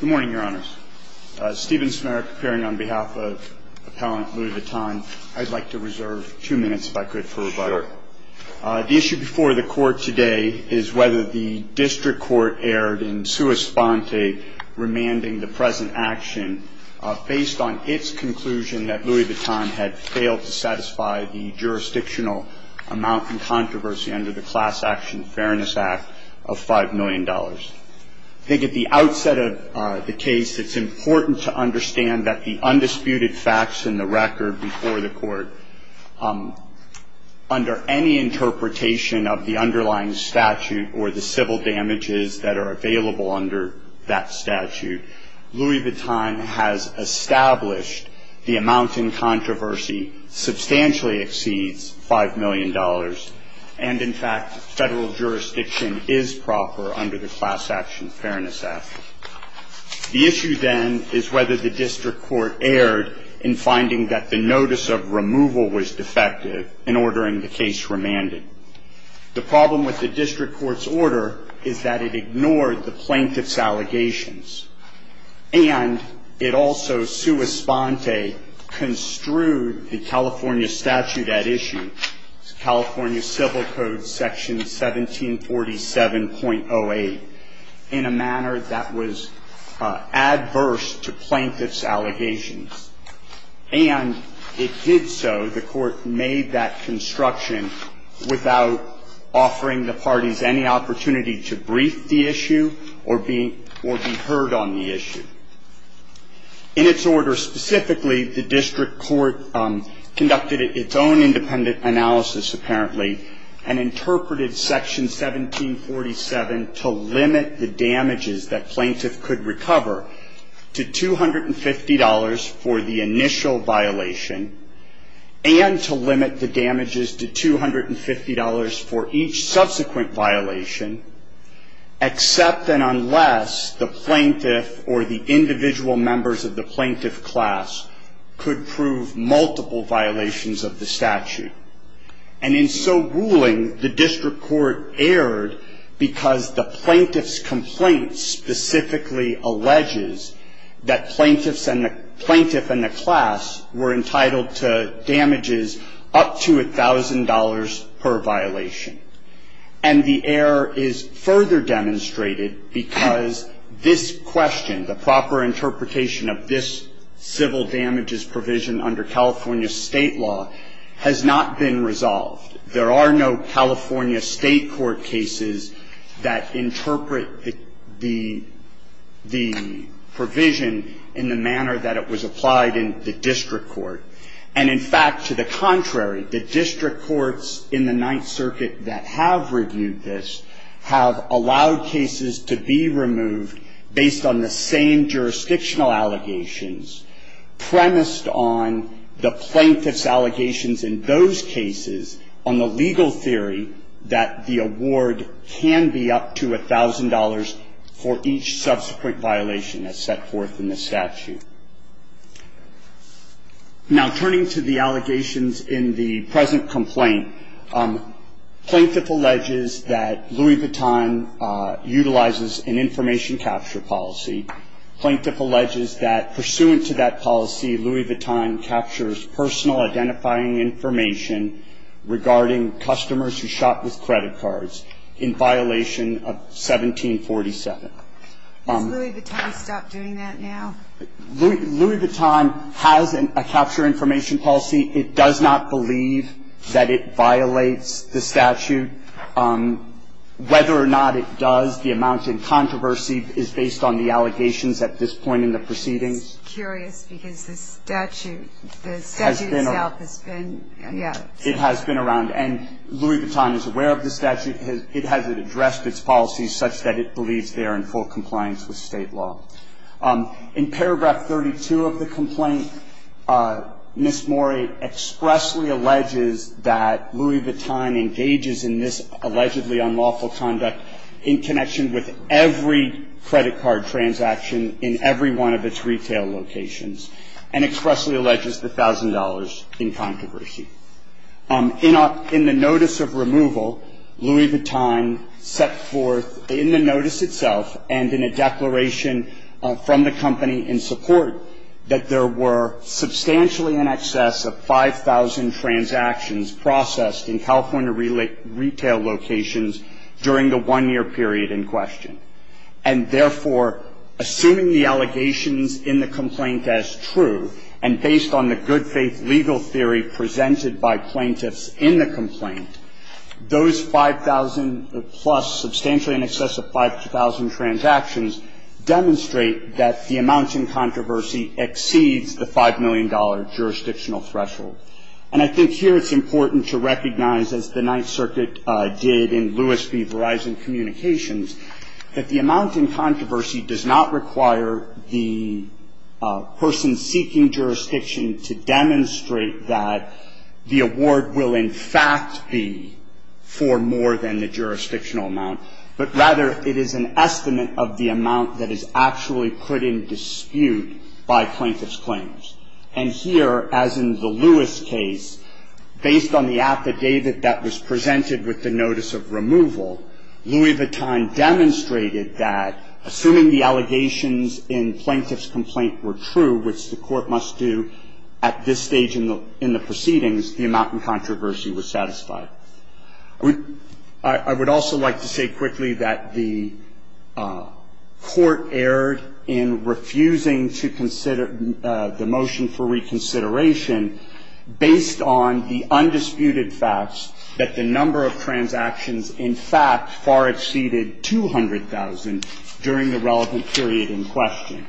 Good morning, Your Honors. Stephen Smerek appearing on behalf of Appellant Louis Vuitton. I'd like to reserve two minutes, if I could, for rebuttal. Sure. The issue before the Court today is whether the District Court erred in sua sponte, remanding the present action, based on its conclusion that Louis Vuitton had failed to satisfy the jurisdictional amount in controversy under the Class Action Fairness Act of $5 million. I think at the outset of the case, it's important to understand that the undisputed facts in the record before the Court, under any interpretation of the underlying statute or the civil damages that are available under that statute, Louis Vuitton has established the amount in controversy substantially exceeds $5 million, and in fact, federal jurisdiction is proper under the Class Action Fairness Act. The issue then is whether the District Court erred in finding that the notice of removal was defective in ordering the case remanded. The problem with the District Court's order is that it ignored the plaintiff's allegations, and it also sua sponte construed the California statute at issue, California Civil Code Section 1747.08, in a manner that was adverse to plaintiff's allegations. And it did so, the Court made that construction without offering the parties any opportunity to brief the issue or be heard on the issue. In its order specifically, the District Court conducted its own independent analysis, apparently, and interpreted Section 1747 to limit the damages that plaintiff could recover to $250 for the initial violation, and to limit the damages to $250 for each subsequent violation, except and unless the plaintiff or the individual members of the plaintiff class could prove multiple violations of the statute. And in so ruling, the District Court erred because the plaintiff's complaint specifically alleges that plaintiff and the class were entitled to damages up to $1,000 per violation. And the error is further demonstrated because this question, the proper interpretation of this civil damages provision under California state law, has not been resolved. There are no California state court cases that interpret the provision in the manner that it was applied in the District Court. And in fact, to the contrary, the District Courts in the Ninth Circuit that have reviewed this have allowed cases to be removed based on the same jurisdictional allegations, premised on the plaintiff's allegations in those cases on the legal theory that the award can be up to $1,000 for each subsequent violation as set forth in the statute. Now, turning to the allegations in the present complaint, plaintiff alleges that Louis Vuitton utilizes an information capture policy. Plaintiff alleges that pursuant to that policy, Louis Vuitton captures personal identifying information regarding customers who shopped with credit cards in violation of 1747. Has Louis Vuitton stopped doing that now? Louis Vuitton has a capture information policy. It does not believe that it violates the statute. Whether or not it does, the amount in controversy is based on the allegations at this point in the proceedings. It's curious because the statute, the statute itself has been, yeah. It has been around. And Louis Vuitton is aware of the statute. It hasn't addressed its policies such that it believes they are in full compliance with state law. In paragraph 32 of the complaint, Ms. Morey expressly alleges that Louis Vuitton engages in this allegedly unlawful conduct in connection with every credit card transaction in every one of its retail locations, and expressly alleges the $1,000 in controversy. In the notice of removal, Louis Vuitton set forth in the notice itself and in a declaration from the company in support that there were substantially in excess of 5,000 transactions processed in California retail locations during the one-year period in question. And therefore, assuming the allegations in the complaint as true, and based on the good-faith legal theory presented by plaintiffs in the complaint, those 5,000-plus, substantially in excess of 5,000 transactions, demonstrate that the amount in controversy exceeds the $5 million jurisdictional threshold. And I think here it's important to recognize, as the Ninth Circuit did in Lewis v. Verizon Communications, that the amount in controversy does not require the person seeking jurisdiction to demonstrate that the award will in fact be for more than the jurisdictional amount, but rather it is an estimate of the amount that is actually put in dispute by plaintiff's claims. And here, as in the Lewis case, based on the affidavit that was presented with the notice of removal, Louis Vuitton demonstrated that, assuming the allegations in plaintiff's complaint were true, which the Court must do at this stage in the proceedings, the amount in controversy was satisfied. I would also like to say quickly that the Court erred in refusing to consider the motion for reconsideration based on the undisputed facts that the number of transactions, in fact, far exceeded 200,000 during the relevant period in question.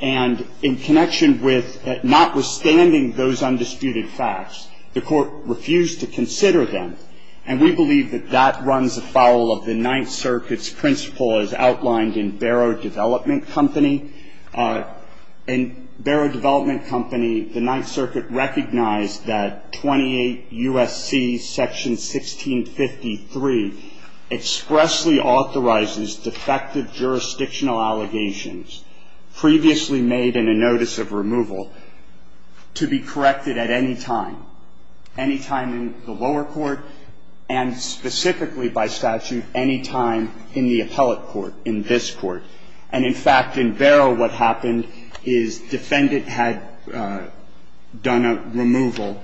And in connection with notwithstanding those undisputed facts, the Court refused to consider them, and we believe that that runs afoul of the Ninth Circuit's principle as outlined in Barrow Development Company. In Barrow Development Company, the Ninth Circuit recognized that 28 U.S.C. section 1653 expressly authorizes defective jurisdictional allegations previously made in a notice of removal to be corrected at any time, any time in the lower court, and specifically by statute any time in the appellate court, in this court. And, in fact, in Barrow, what happened is defendant had done a removal.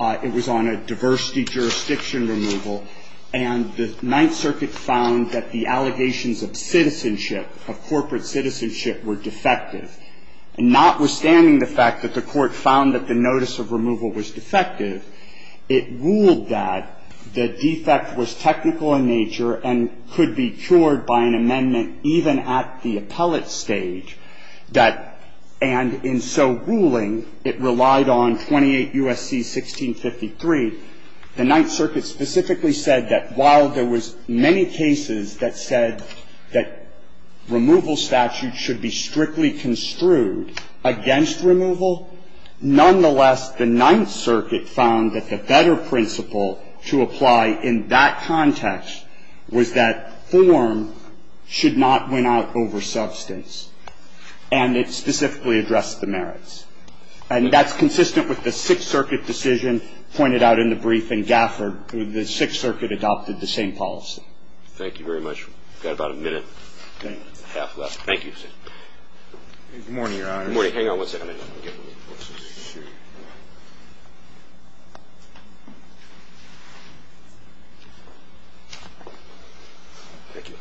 It was on a diversity jurisdiction removal. And the Ninth Circuit found that the allegations of citizenship, of corporate citizenship, were defective. And notwithstanding the fact that the Court found that the notice of removal was defective, it ruled that the defect was technical in nature and could be cured by an amendment even at the appellate stage, that, and in so ruling, it relied on 28 U.S.C. 1653. The Ninth Circuit specifically said that while there was many cases that said that removal statute should be strictly construed against removal, nonetheless the Ninth Circuit found that the better principle to apply in that context was that form should not win out over substance. And it specifically addressed the merits. And that's consistent with the Sixth Circuit decision pointed out in the brief, and Gafford, the Sixth Circuit adopted the same policy. Thank you very much. We've got about a minute and a half left. Thank you. Good morning, Your Honor. Good morning. Hang on one second. Thank you.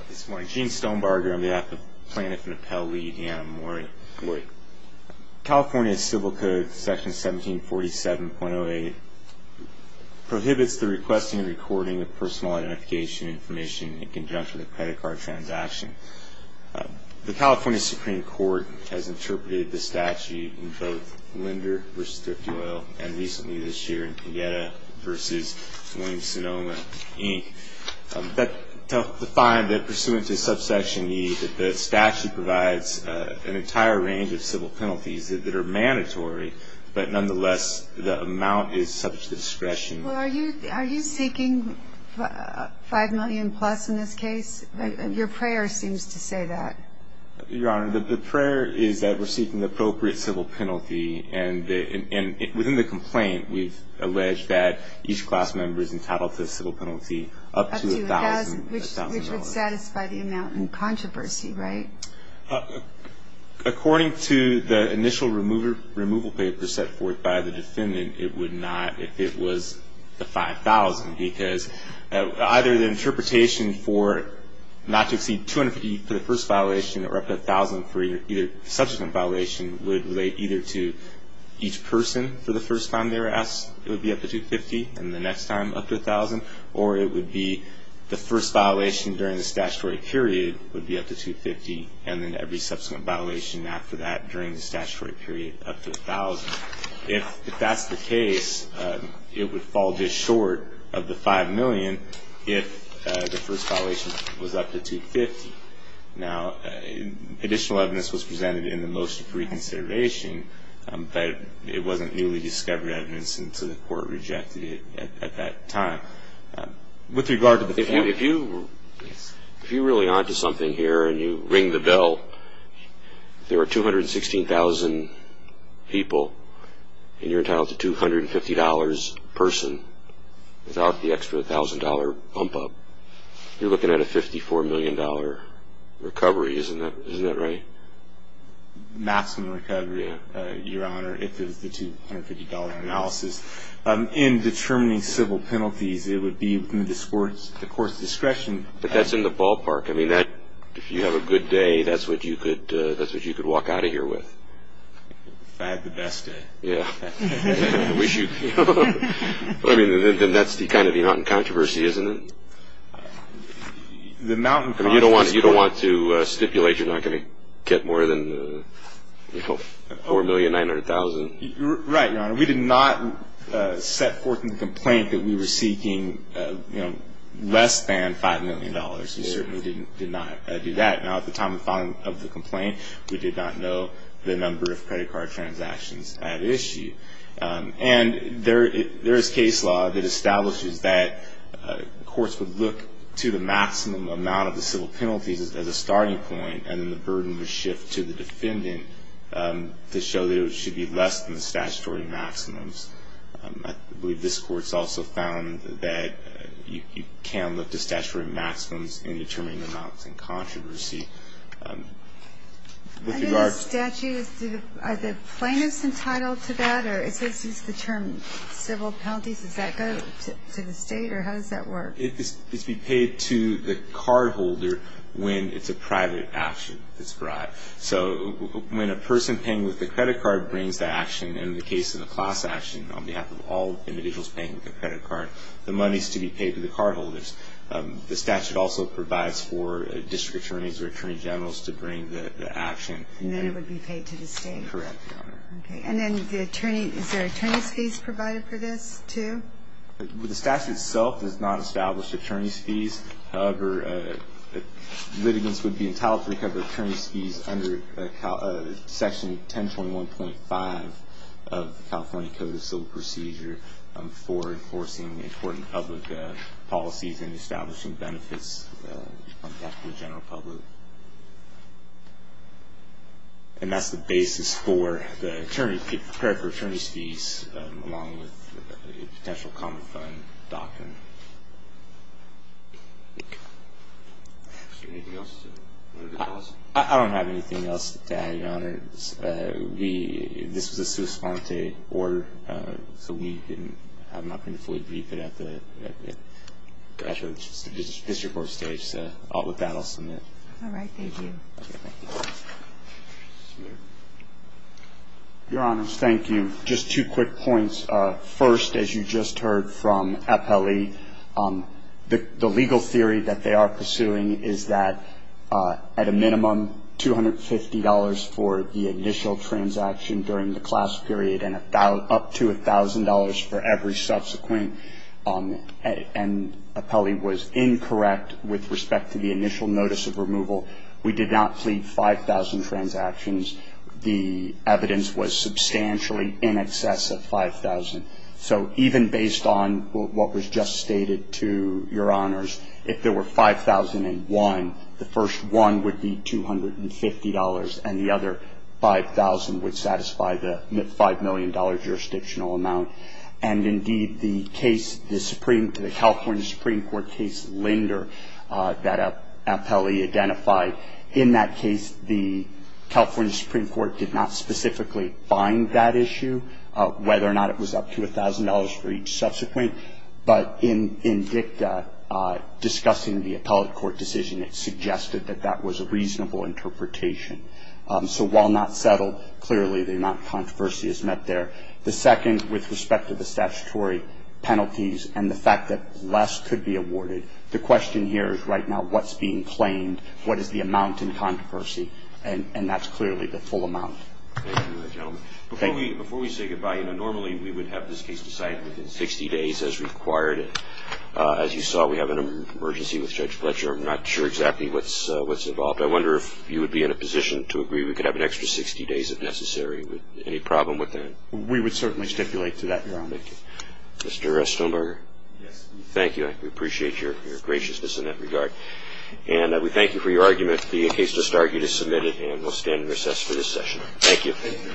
Good morning. Gene Stonebarger. I'm the plaintiff and appellate lead. Good morning. Good morning. California Civil Code Section 1747.08 prohibits the requesting and recording of personal identification information in conjunction with a credit card transaction. The California Supreme Court has interpreted the statute in both Linder v. Thrifty Oil and recently this year in Pineda v. Williams-Sonoma, Inc. to find that pursuant to subsection E, that the statute provides an entire range of civil penalties that are mandatory, but nonetheless the amount is subject to discretion. Well, are you seeking 5 million plus in this case? Your prayer seems to say that. Your Honor, the prayer is that we're seeking the appropriate civil penalty, and within the complaint we've alleged that each class member is entitled to a civil penalty up to 1,000 dollars. Up to 1,000, which would satisfy the amount in controversy, right? If it was the 5,000, because either the interpretation for not to exceed 250 for the first violation or up to 1,000 for either subsequent violation would relate either to each person for the first time they were asked, it would be up to 250, and the next time up to 1,000, or it would be the first violation during the statutory period would be up to 250, and then every subsequent violation after that during the statutory period up to 1,000. If that's the case, it would fall this short of the 5 million if the first violation was up to 250. Now, additional evidence was presented in the motion for reconsideration, but it wasn't newly discovered evidence, and so the court rejected it at that time. With regard to the fact that you were really onto something here and you ring the bell, there were 216,000 people, and you're entitled to $250 a person without the extra $1,000 bump-up. You're looking at a $54 million recovery, isn't that right? Maximum recovery, Your Honor, if it was the $250 analysis. In determining civil penalties, it would be within the court's discretion. But that's in the ballpark. I mean, if you have a good day, that's what you could walk out of here with. If I had the best day. Yeah. I mean, then that's kind of the mountain controversy, isn't it? You don't want to stipulate you're not going to get more than $4,900,000. Right, Your Honor. We did not set forth in the complaint that we were seeking less than $5 million. We certainly did not do that. Now, at the time of filing of the complaint, we did not know the number of credit card transactions at issue. And there is case law that establishes that courts would look to the maximum amount of the civil penalties as a starting point, and then the burden would shift to the defendant to show that it should be less than the statutory maximums. I believe this Court's also found that you can look to statutory maximums in determining amounts in controversy. Are the plaintiffs entitled to that, or is the term civil penalties, does that go to the state, or how does that work? It's to be paid to the cardholder when it's a private action. So when a person paying with a credit card brings the action, in the case of the class action, on behalf of all individuals paying with a credit card, the money is to be paid to the cardholders. The statute also provides for district attorneys or attorney generals to bring the action. And then it would be paid to the state. Correct, Your Honor. Okay. And then the attorney, is there attorney's fees provided for this, too? The statute itself does not establish attorney's fees. However, litigants would be entitled to recover attorney's fees under Section 1021.5 of the California Code of Civil Procedure for enforcing important public policies and establishing benefits on behalf of the general public. And that's the basis for the attorney, prepared for attorney's fees, along with a potential common fund doctrine. Okay. Is there anything else? I don't have anything else to add, Your Honor. This was a sua sponte order, so we have not been fully briefed at the district court stage. So with that, I'll submit. All right. Thank you. Your Honors, thank you. Just two quick points. First, as you just heard from Apelli, the legal theory that they are pursuing is that at a minimum, $250 for the initial transaction during the class period and up to $1,000 for every subsequent. And Apelli was incorrect with respect to the initial notice of removal. We did not plead 5,000 transactions. The evidence was substantially in excess of 5,000. So even based on what was just stated to Your Honors, if there were 5,001, the first one would be $250, and the other 5,000 would satisfy the $5 million jurisdictional amount. And, indeed, the case, the California Supreme Court case Linder that Apelli identified, in that case the California Supreme Court did not specifically find that issue, whether or not it was up to $1,000 for each subsequent. But in DICTA discussing the appellate court decision, it suggested that that was a reasonable interpretation. So while not settled, clearly the amount of controversy is met there. The second, with respect to the statutory penalties and the fact that less could be awarded, the question here is right now what's being claimed, what is the amount in controversy, and that's clearly the full amount. Thank you, gentlemen. Before we say goodbye, normally we would have this case decided within 60 days as required. As you saw, we have an emergency with Judge Fletcher. I'm not sure exactly what's involved. I wonder if you would be in a position to agree we could have an extra 60 days if necessary. Any problem with that? We would certainly stipulate to that, Your Honor. Thank you. Mr. Stoneberger? Yes. Thank you. I appreciate your graciousness in that regard. And we thank you for your argument. The case just argued is submitted, and we'll stand in recess for this session. Thank you. Thank you.